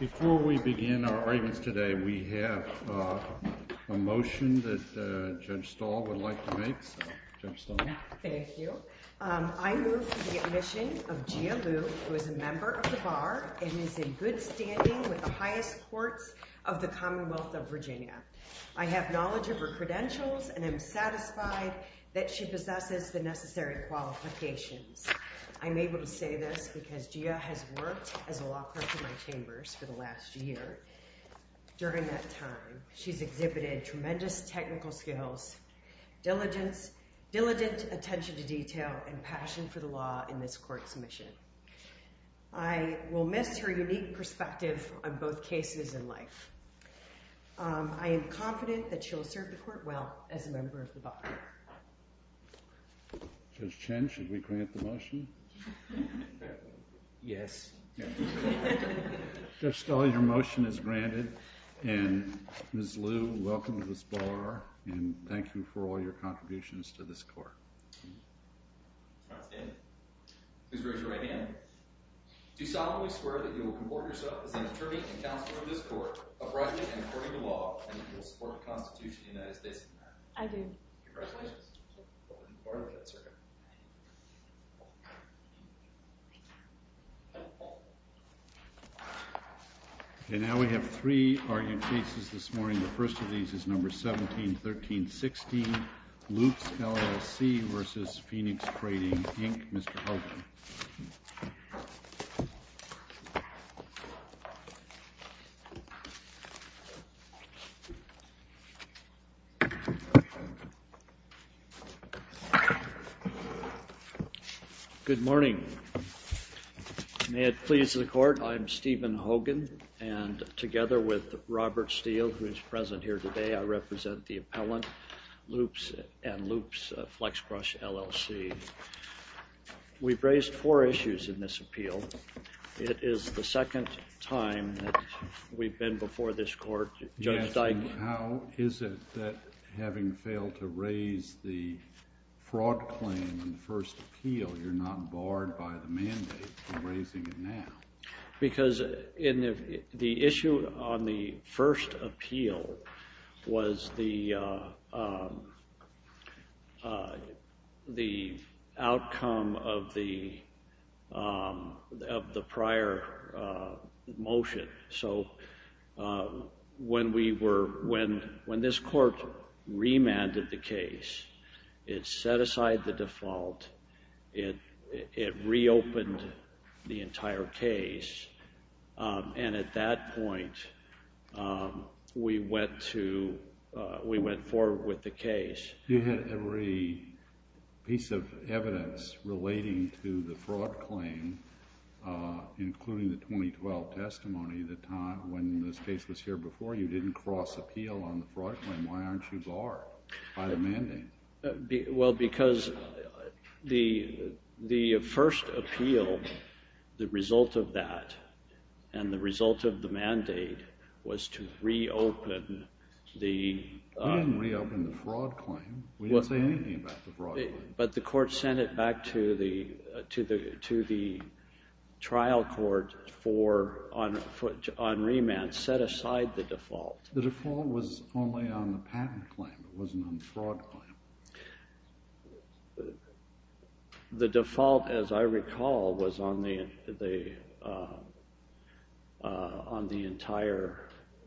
Before we begin our arguments today, we have a motion that Judge Stahl would like to make. Thank you. I move for the admission of Gia Liu, who is a member of the Bar and is in good standing with the highest courts of the Commonwealth of Virginia. I have knowledge of her credentials and am satisfied that she possesses the necessary qualifications. I'm able to say this because Gia has worked as a law clerk in my chambers for the last year. During that time, she's exhibited tremendous technical skills, diligent attention to detail, and passion for the law in this court's mission. I will miss her unique perspective on both cases in life. I am confident that she will serve the court well as a member of the Bar. Judge Chen, should we grant the motion? Yes. Judge Stahl, your motion is granted, and Ms. Liu, welcome to this Bar and thank you for all your contributions to this court. Please raise your right hand. Do you solemnly swear that you will comport yourself as an attorney and counselor in this court, abiding and according to the law? Okay, now we have three argued cases this morning. The first of these is number 17-13-16, Lutz LLC versus Phoenix Trading, Inc., Mr. Hogan. Good morning. May it please the court, I'm Stephen Hogan, and together with Robert Steele, who is present here today, I represent the appellant, Lutz and Lutz Flex Brush LLC. We've raised four issues in this appeal. It is the second time that we've been before this court. Judge Stein, how is it that, having failed to raise the fraud claim in the first appeal, you're not barred by the mandate of raising it now? Because in the issue on the first appeal was the outcome of the prior motion. So when this court remanded the case, it set aside the default, it reopened the entire case, and at that point we went forward with the case. You had every piece of evidence relating to the fraud claim, including the 2012 testimony, the time when this case was here before, you didn't cross appeal on the fraud claim. Why aren't you barred by the mandate? Well, because the first appeal, the result of that, and the result of the mandate was to reopen the... We didn't reopen the fraud claim. We didn't say anything about the fraud claim. But the court sent it back to the trial court on remand, set aside the default. The default was only on the patent claim, it wasn't on the fraud claim. The default, as I recall, was on the entire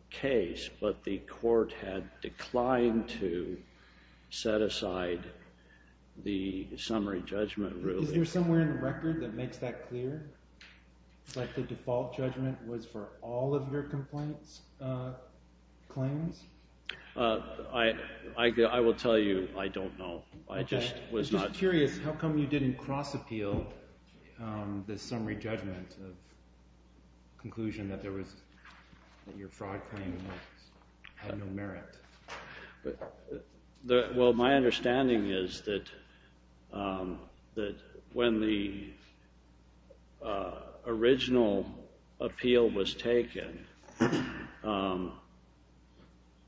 case, but the court had declined to set aside the summary judgment ruling. Is there somewhere in the record that makes that clear? It's like the default judgment was for all of your complaints, claims? I will tell you, I don't know. I just was not... I'm just curious, how come you didn't cross appeal the summary judgment of conclusion that your fraud claim had no merit? Well, my understanding is that when the original appeal was taken,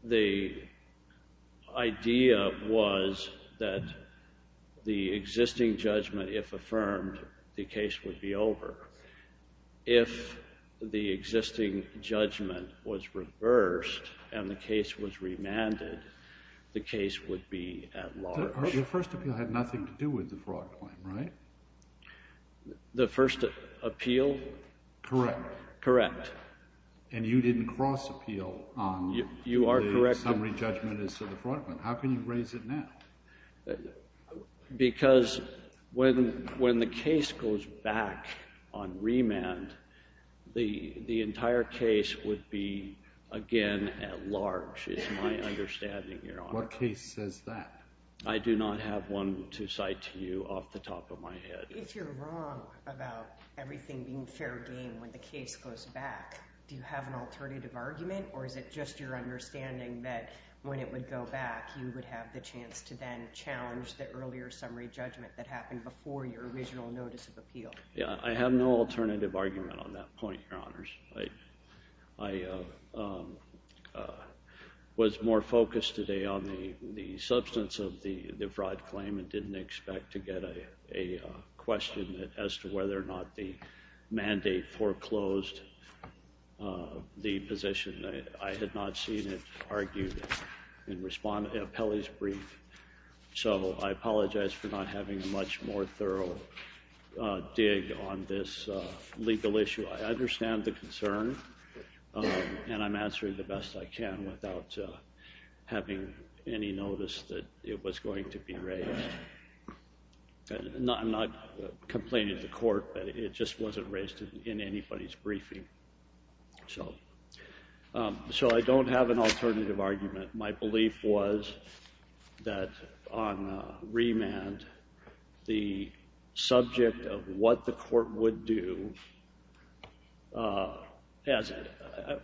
the idea was that the existing judgment, if affirmed, the case would be over. If the existing judgment was reversed and the case was remanded, the case would be at large. Your first appeal had nothing to do with the fraud claim, right? The first appeal? Correct. Correct. And you didn't cross appeal on the summary judgment of the fraud claim. How can you raise it now? Because when the case goes back on remand, the entire case would be, again, at large, is my understanding, Your Honor. What case says that? I do not have one to cite to you off the top of my head. If you're wrong about everything being fair game when the case goes back, do you have an alternative argument or is it just your understanding that when it would go back, you would have the chance to then challenge the earlier summary judgment that happened before your original notice of appeal? Yeah, I have no alternative argument on that point, Your Honors. I was more focused today on the substance of the fraud claim and didn't expect to get a question as to whether or not the mandate foreclosed the position. I had not seen it argued in Pelley's brief, so I apologize for not having a much more thorough dig on this legal issue. I understand the concern and I'm answering the best I can without having any notice that it was going to be raised. I'm not complaining to the court, but it just wasn't raised in anybody's briefing. So I don't have an alternative argument. My belief was that on remand, the subject of what the court would do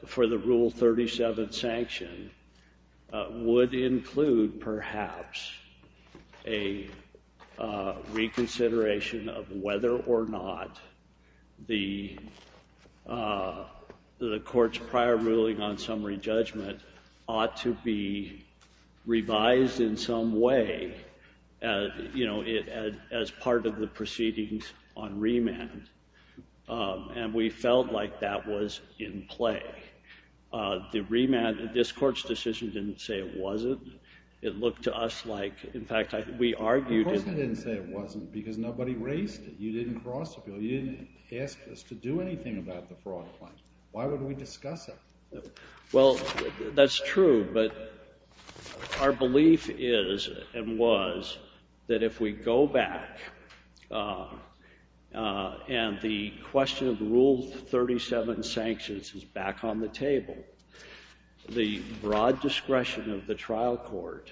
for the Rule 37 sanction would include perhaps a reconsideration of whether or not the court's prior ruling on summary judgment ought to be revised in some way as part of the proceedings on remand. And we felt like that was in play. The remand, this court's decision didn't say it wasn't. It looked to us like, in fact, we argued it. Because nobody raised it. You didn't ask us to do anything about the fraud claim. Why would we discuss it? Well, that's true, but our belief is and was that if we go back and the question of Rule 37 sanctions is back on the table, the broad discretion of the trial court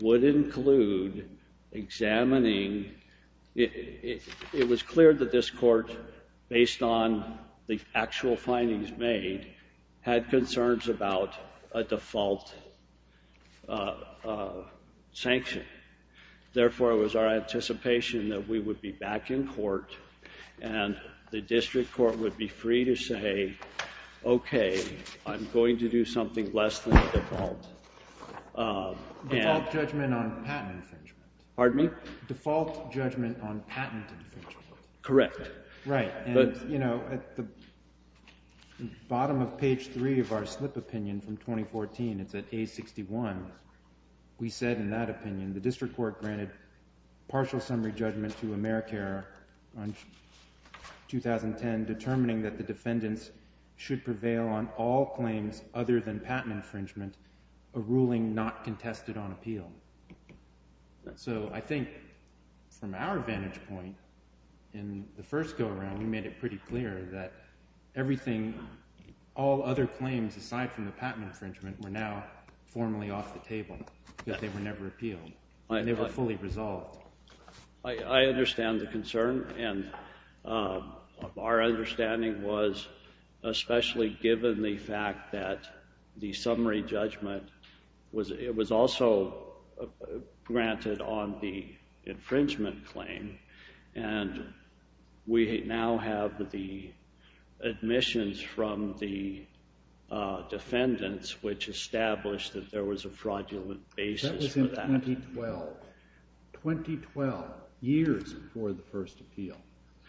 would include examining. It was clear that this court, based on the actual findings made, had concerns about a default sanction. Therefore, it was our anticipation that we would be back in court and the district court would be free to say, okay, I'm going to do something less than a default judgment on patent infringement. Pardon me? Default judgment on patent infringement. Correct. Right. And, you know, at the bottom of page three of our slip opinion from 2014, it's at page 61, we said in that opinion, the district court granted partial summary judgment to Americare on 2010, determining that the defendants should prevail on all claims other than patent infringement, a ruling not contested on appeal. So I think from our vantage point in the first go-around, we made it pretty clear that everything, all other claims aside from the patent infringement, were now formally off the table, that they were never appealed, and they were fully resolved. I understand the concern, and our understanding was, especially given the fact that the summary judgment was also granted on the infringement claim, and we now have the admissions from the defendants, which established that there was a fraudulent basis for that. That was in 2012. 2012, years before the first appeal,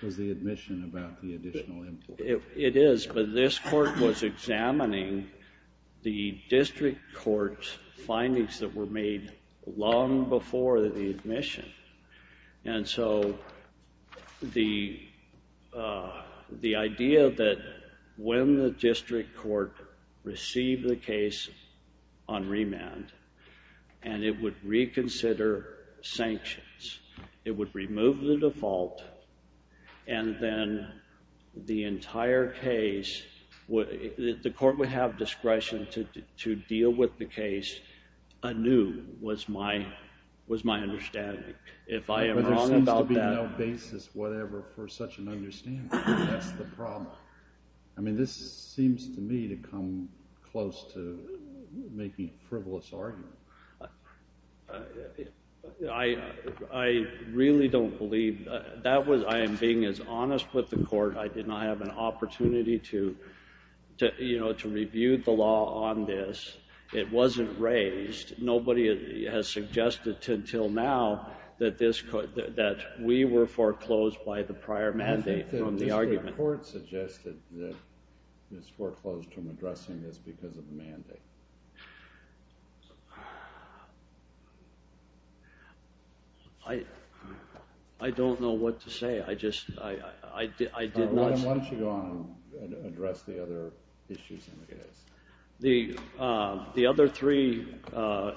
was the admission about the additional influence. It is, but this court was examining the district court's findings that were made long before the admission, and so the idea that when the district court received the case on remand, and it would reconsider sanctions, it would remove the default, and then the entire case, the court would have discretion to deal with the case anew, was my understanding. If I am wrong about that. There seems to be no basis, whatever, for such an making a frivolous argument. I really don't believe that. I am being as honest with the court. I did not have an opportunity to review the law on this. It wasn't raised. Nobody has suggested until now that we were foreclosed by the prior mandate from the argument. The district court suggested that it was foreclosed from addressing this because of the mandate. I don't know what to say. I just, I did not. Why don't you go on and address the other issues in the case. The other three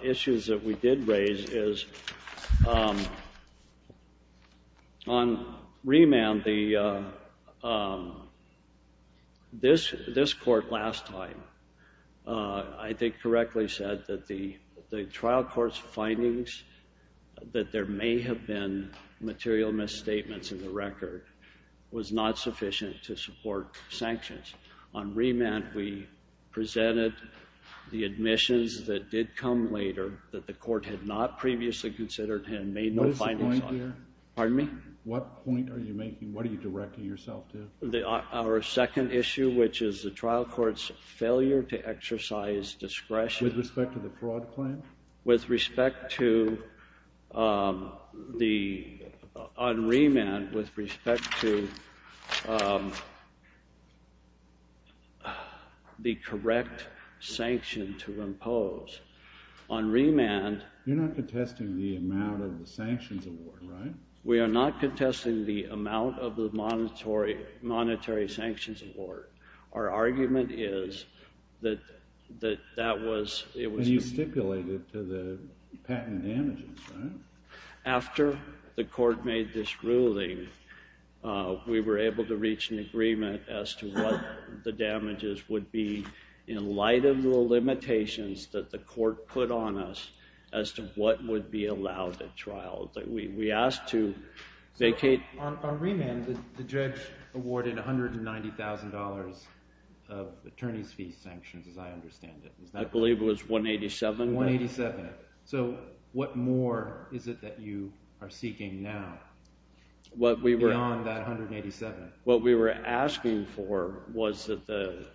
issues that we did raise is on remand. This court last time, I think, correctly said that the trial court's findings that there may have been material misstatements in the record was not sufficient to support sanctions. On remand, we presented the admissions that did come later that the court had not previously considered and made no findings on. What is the point here? Pardon me? What point are you making? What are you directing yourself to? Our second issue, which is the trial court's failure to exercise discretion. With respect to the fraud claim? With respect to the, on remand, with respect to the correct sanction to impose. On remand. You're not contesting the amount of the sanctions award, right? We are not contesting the amount of the monetary sanctions award. Our argument is that that was. And you stipulated to the patent damages, right? After the court made this ruling, we were able to reach an agreement as to what the damages would be in light of the limitations that the court put on us as to what would be allowed at trial. We asked to vacate. On remand, the judge awarded $190,000 of attorney's fee sanctions, as I understand it. I believe it was $187,000. $187,000. So what more is it that you are seeking now? What we were. Beyond that $187,000. What we were asking for was that the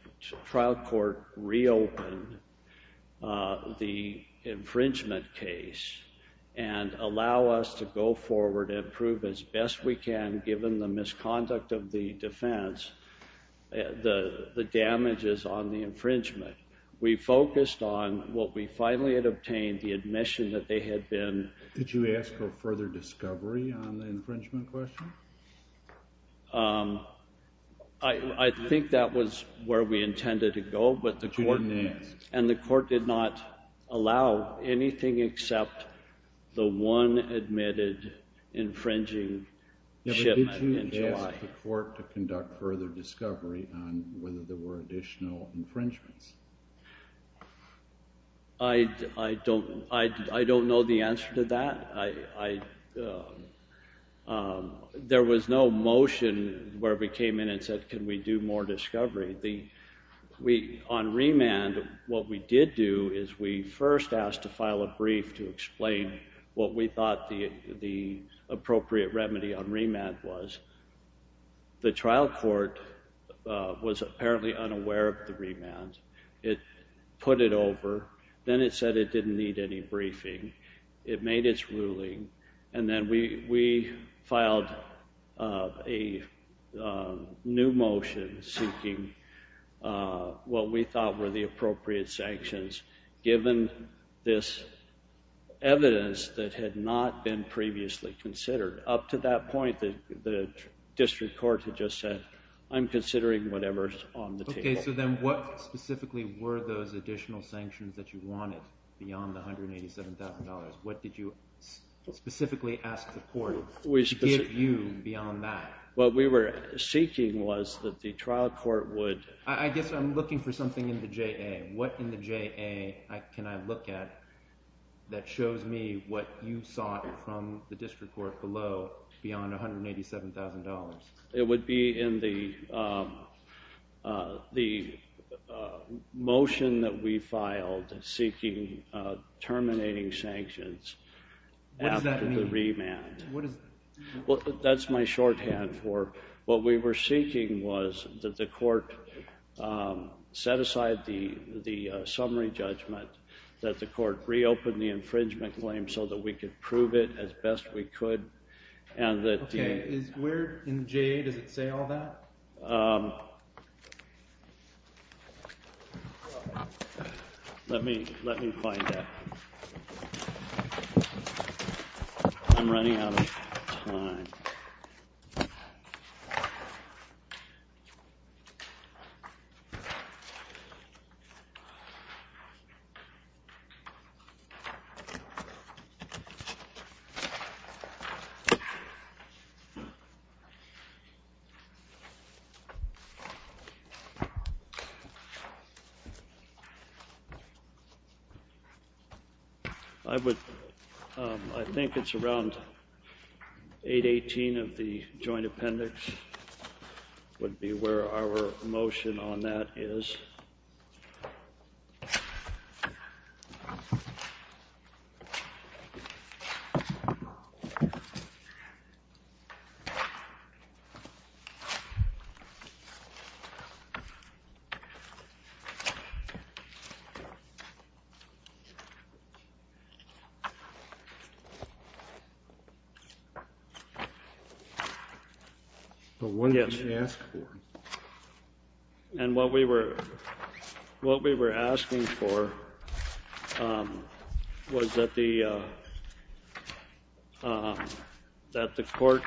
trial court reopen the infringement case and allow us to go forward and prove as best we can, given the misconduct of the defense, the damages on the infringement. We focused on what we finally had obtained, the admission that they had been. Did you ask for further discovery on the infringement question? I think that was where we intended to go. But you didn't ask. And the court did not allow anything except the one admitted infringing shipment in July. Did you ask the court to conduct further discovery on whether there were additional infringements? I don't know the answer to that. There was no motion where we came in and said, can we do more discovery? On remand, what we did do is we first asked to file a brief to explain what we thought the appropriate remedy on remand was. The trial court was apparently unaware of the remand. It put it over. Then it said it didn't need any briefing. It made its ruling. And then we filed a new motion seeking what we thought were the appropriate sanctions, given this evidence that had not been previously considered. Up to that point, the district court had just said, I'm considering whatever's on the table. So then what specifically were those additional sanctions that you wanted beyond the $187,000? What did you specifically ask the court to give you beyond that? What we were seeking was that the trial court would... I guess I'm looking for something in the JA. What in the JA can I look at that shows me what you sought from the district court below beyond $187,000? It would be in the motion that we filed seeking terminating sanctions after the remand. That's my shorthand for what we were seeking was that the court set aside the summary judgment, that the court reopened the infringement claim so that we could prove it as best we could. Okay. Where in the JA does it say all that? Let me find that. I'm running out of time. I think it's around 818 of the joint appendix would be where our motion on that is. Okay. But what did you ask for? And what we were asking for was that the court...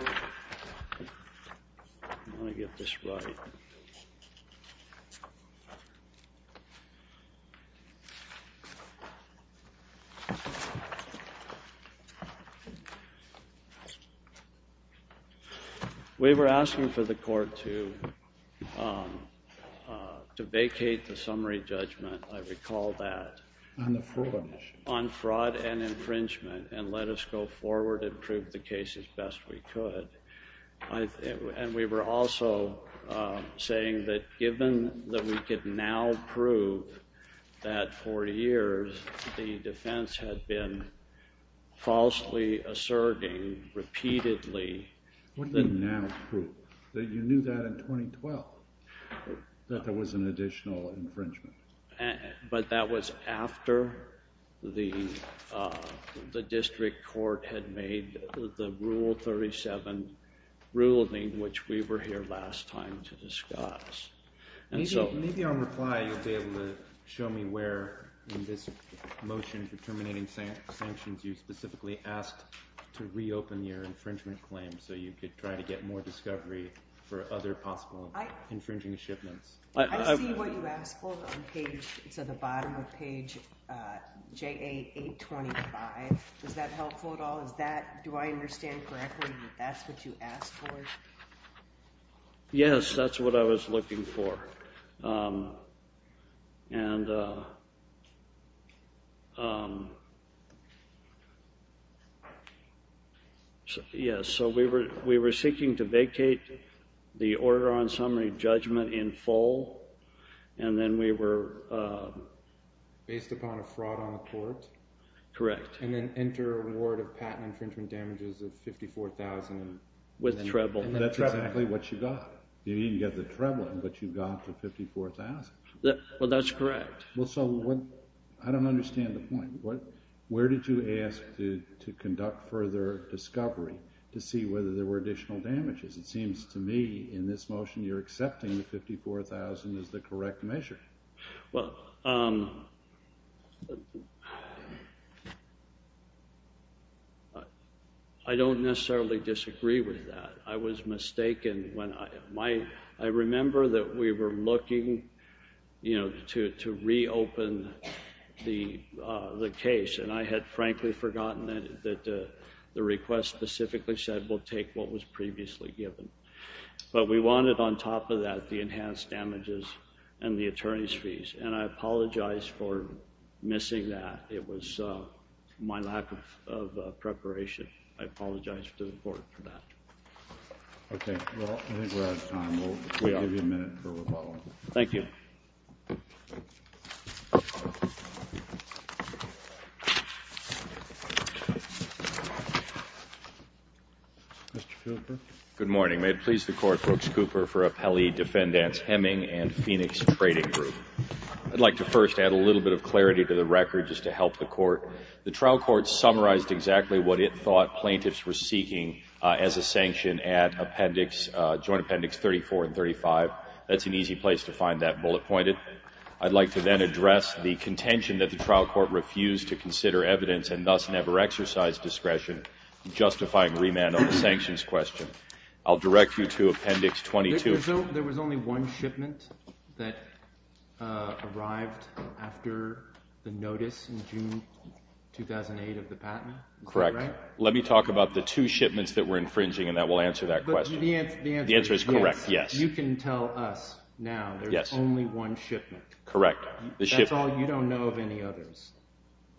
I want to get this right. Okay. We were asking for the court to vacate the summary judgment. I recall that. On the fraud. On fraud and infringement and let us go forward and prove the case as best we could. And we were also saying that given that we could now prove that for years, the defense had been falsely asserting repeatedly... What do you mean now prove? You knew that in 2012, that there was an additional infringement. But that was after the district court had made the rule 37 ruling, which we were here last time to discuss. Maybe on reply, you'll be able to show me where in this motion for terminating sanctions, you specifically asked to reopen your infringement claim, so you could try to get more discovery for other possible infringing shipments. I see what you asked for on the bottom of page JA 825. Is that helpful at all? Do I understand correctly that that's what you asked for? Yes, that's what I was looking for. Yes, so we were seeking to vacate the order on summary judgment in full and then we were... Based upon a fraud on the court? Correct. And then enter a ward of patent infringement damages of $54,000. With treble. That's exactly what you got. You didn't get the treble, but you got the $54,000. Well, that's correct. Well, so I don't understand the point. Where did you ask to conduct further discovery to see whether there were additional damages? It seems to me in this motion, you're accepting the $54,000 as the correct measure. Well, I don't necessarily disagree with that. I was mistaken when I remember that we were looking to reopen the case, and I had frankly forgotten that the request specifically said, we'll take what was previously given. But we wanted on top of that the enhanced damages and the attorney's fees, and I apologize for missing that. It was my lack of preparation. I apologize to the court for that. Okay. Well, I think we're out of time. We'll give you a minute for rebuttal. Thank you. Mr. Fielder? Good morning. May it please the court, Brooks Cooper for Appellee Defendants Hemming and Phoenix Trading Group. I'd like to first add a little bit of clarity to the record just to help the court. The trial court summarized exactly what it thought plaintiffs were seeking as a sanction at Appendix, Joint Appendix 34 and 35. That's an easy place to find that bullet pointed. I'd like to then address the contention that the trial court refused to consider evidence and thus never exercised discretion justifying remand on the sanctions question. I'll direct you to Appendix 22. There was only one shipment that arrived after the notice in June 2008 of the patent. Correct. Let me talk about the two shipments that were infringing and that will answer that question. The answer is correct. Yes. You can tell us now there's only one shipment. Correct. That's all you don't know of any others.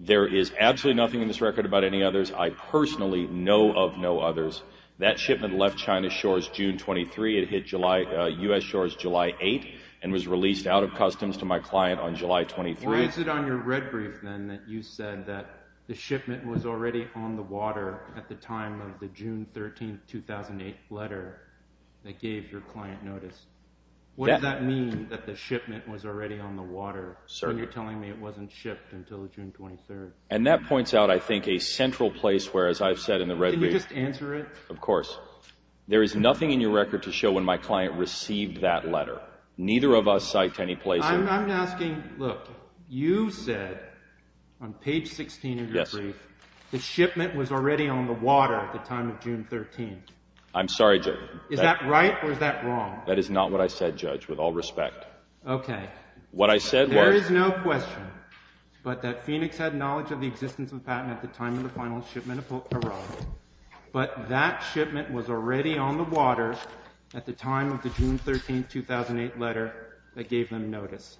There is absolutely nothing in this record about any others. I personally know of no others. That shipment left China's shores June 23. It hit U.S. shores July 8 and was released out of customs to my client on July 23. Or is it on your red brief then that you said that the shipment was already on the water at the time of the June 13, 2008 letter that gave your client notice? What does that mean that the shipment was already on the water? You're telling me it wasn't shipped until June 23. And that points out, I think, a central place where, as I've said in the red brief... Can you just answer it? Of course. There is nothing in your record to show when my client received that letter. Neither of us cite any place... I'm asking... Look, you said on page 16 of your brief the shipment was already on the water at the time of June 13. I'm sorry, Judge. Is that right or is that wrong? That is not what I said, Judge, with all respect. Okay. What I said was... There is no question but that Phoenix had knowledge of the existence of a patent at the time of the final shipment arrived. But that shipment was already on the water at the time of the June 13, 2008 letter that gave them notice.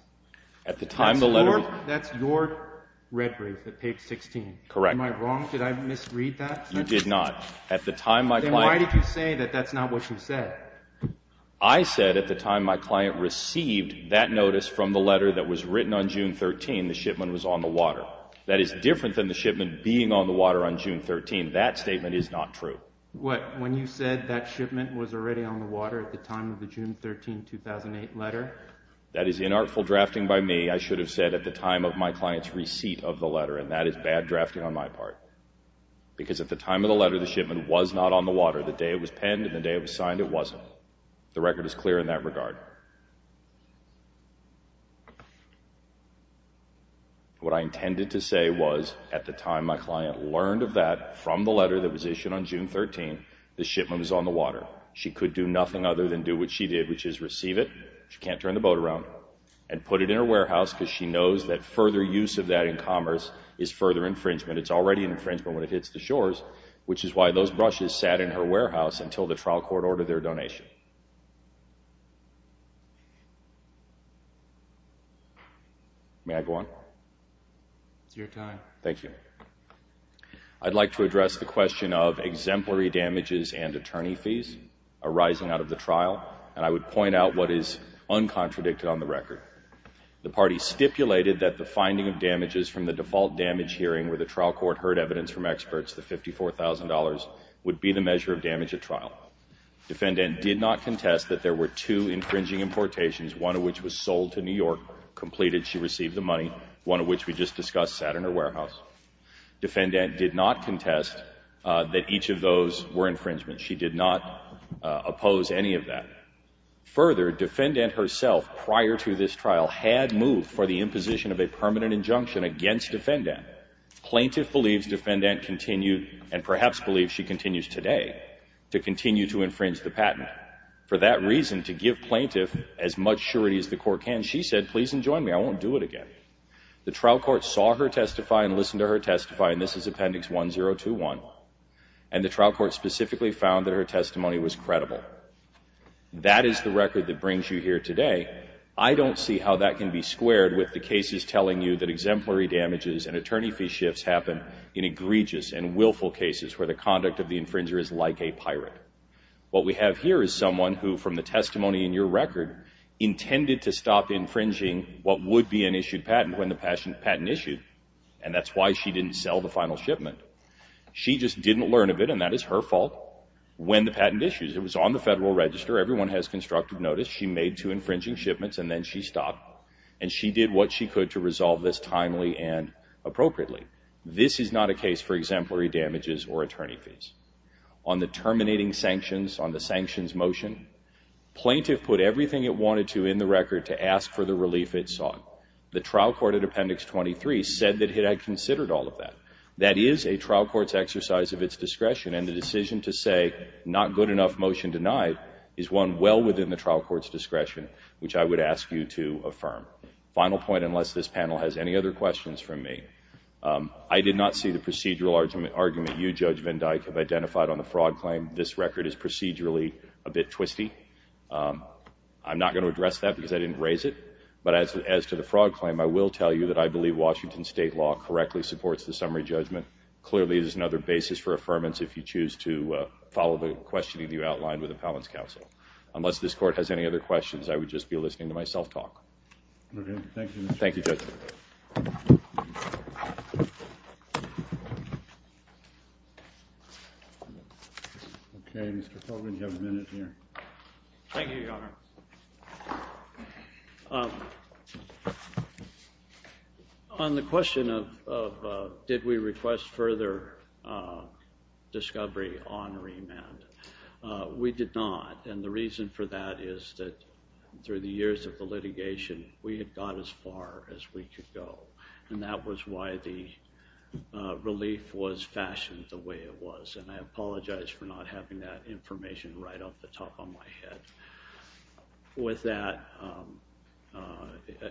At the time the letter... That's your red brief at page 16. Correct. Am I wrong? Did I misread that? You did not. At the time my client... Then why did you say that that's not what you said? I said at the time my client received that notice from the letter that was written on June 13, the shipment was on the water. That is different than the shipment being on the water on June 13. That statement is not true. What? When you said that shipment was already on the water at the time of the June 13, 2008 letter? That is inartful drafting by me. I should have said at the time of my client's receipt of the letter. And that is bad drafting on my part. Because at the time of the letter, the shipment was not on the water. The day it was penned and the day it was signed, it wasn't. The record is clear in that regard. What I intended to say was at the time my client learned of that from the letter that was issued on June 13, the shipment was on the water. She could do nothing other than do what she did, which is receive it, she can't turn the boat around, and put it in her warehouse because she knows that further use of that in commerce is further infringement. It's already infringement when it hits the shores, which is why those brushes sat in her warehouse until the trial court ordered their donation. May I go on? It's your time. Thank you. I'd like to address the question of exemplary damages and attorney fees arising out of the trial. And I would point out what is uncontradicted on the record. The party stipulated that the finding of damages from the default damage hearing where the defendant did not contest that there were two infringing importations, one of which was sold to New York, completed, she received the money, one of which we just discussed sat in her warehouse. Defendant did not contest that each of those were infringements. She did not oppose any of that. Further, defendant herself, prior to this trial, had moved for the imposition of a permanent injunction against defendant. Plaintiff believes defendant continued and perhaps believes she continues today to continue to infringe the patent. For that reason, to give plaintiff as much surety as the court can, she said, please enjoin me. I won't do it again. The trial court saw her testify and listened to her testify, and this is Appendix 1021. And the trial court specifically found that her testimony was credible. That is the record that brings you here today. I don't see how that can be squared with the cases telling you that exemplary damages and attorney fee shifts happen in egregious and willful cases where the conduct of the infringer is like a pirate. What we have here is someone who, from the testimony in your record, intended to stop infringing what would be an issued patent when the patent issued, and that's why she didn't sell the final shipment. She just didn't learn of it, and that is her fault, when the patent issues. It was on the Federal Register. Everyone has constructive notice. She made two infringing shipments, and then she stopped, and she did what she could to appropriately. This is not a case for exemplary damages or attorney fees. On the terminating sanctions, on the sanctions motion, plaintiff put everything it wanted to in the record to ask for the relief it sought. The trial court at Appendix 23 said that it had considered all of that. That is a trial court's exercise of its discretion, and the decision to say, not good enough, motion denied, is one well within the trial court's discretion, which I would ask you to affirm. Final point, unless this panel has any other questions from me. I did not see the procedural argument you, Judge Van Dyck, have identified on the fraud claim. This record is procedurally a bit twisty. I'm not going to address that because I didn't raise it, but as to the fraud claim, I will tell you that I believe Washington state law correctly supports the summary judgment. Clearly, there's another basis for affirmance if you choose to follow the questioning you outlined with Appellant's counsel. Unless this court has any other questions, I would just be listening to myself talk. OK. Thank you, Judge. Thank you, Judge. OK. Mr. Colvin, you have a minute here. Thank you, Your Honor. On the question of did we request further discovery on remand, we did not. And the reason for that is that through the years of the litigation, we had gone as far as we could go. And that was why the relief was fashioned the way it was. And I apologize for not having that information right off the top of my head. With that,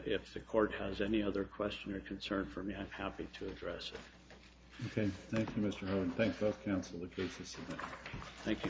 if the court has any other question or concern for me, I'm happy to address it. OK. Thank you, Mr. Hogan. Thank both counsel, the case is submitted. Thank you.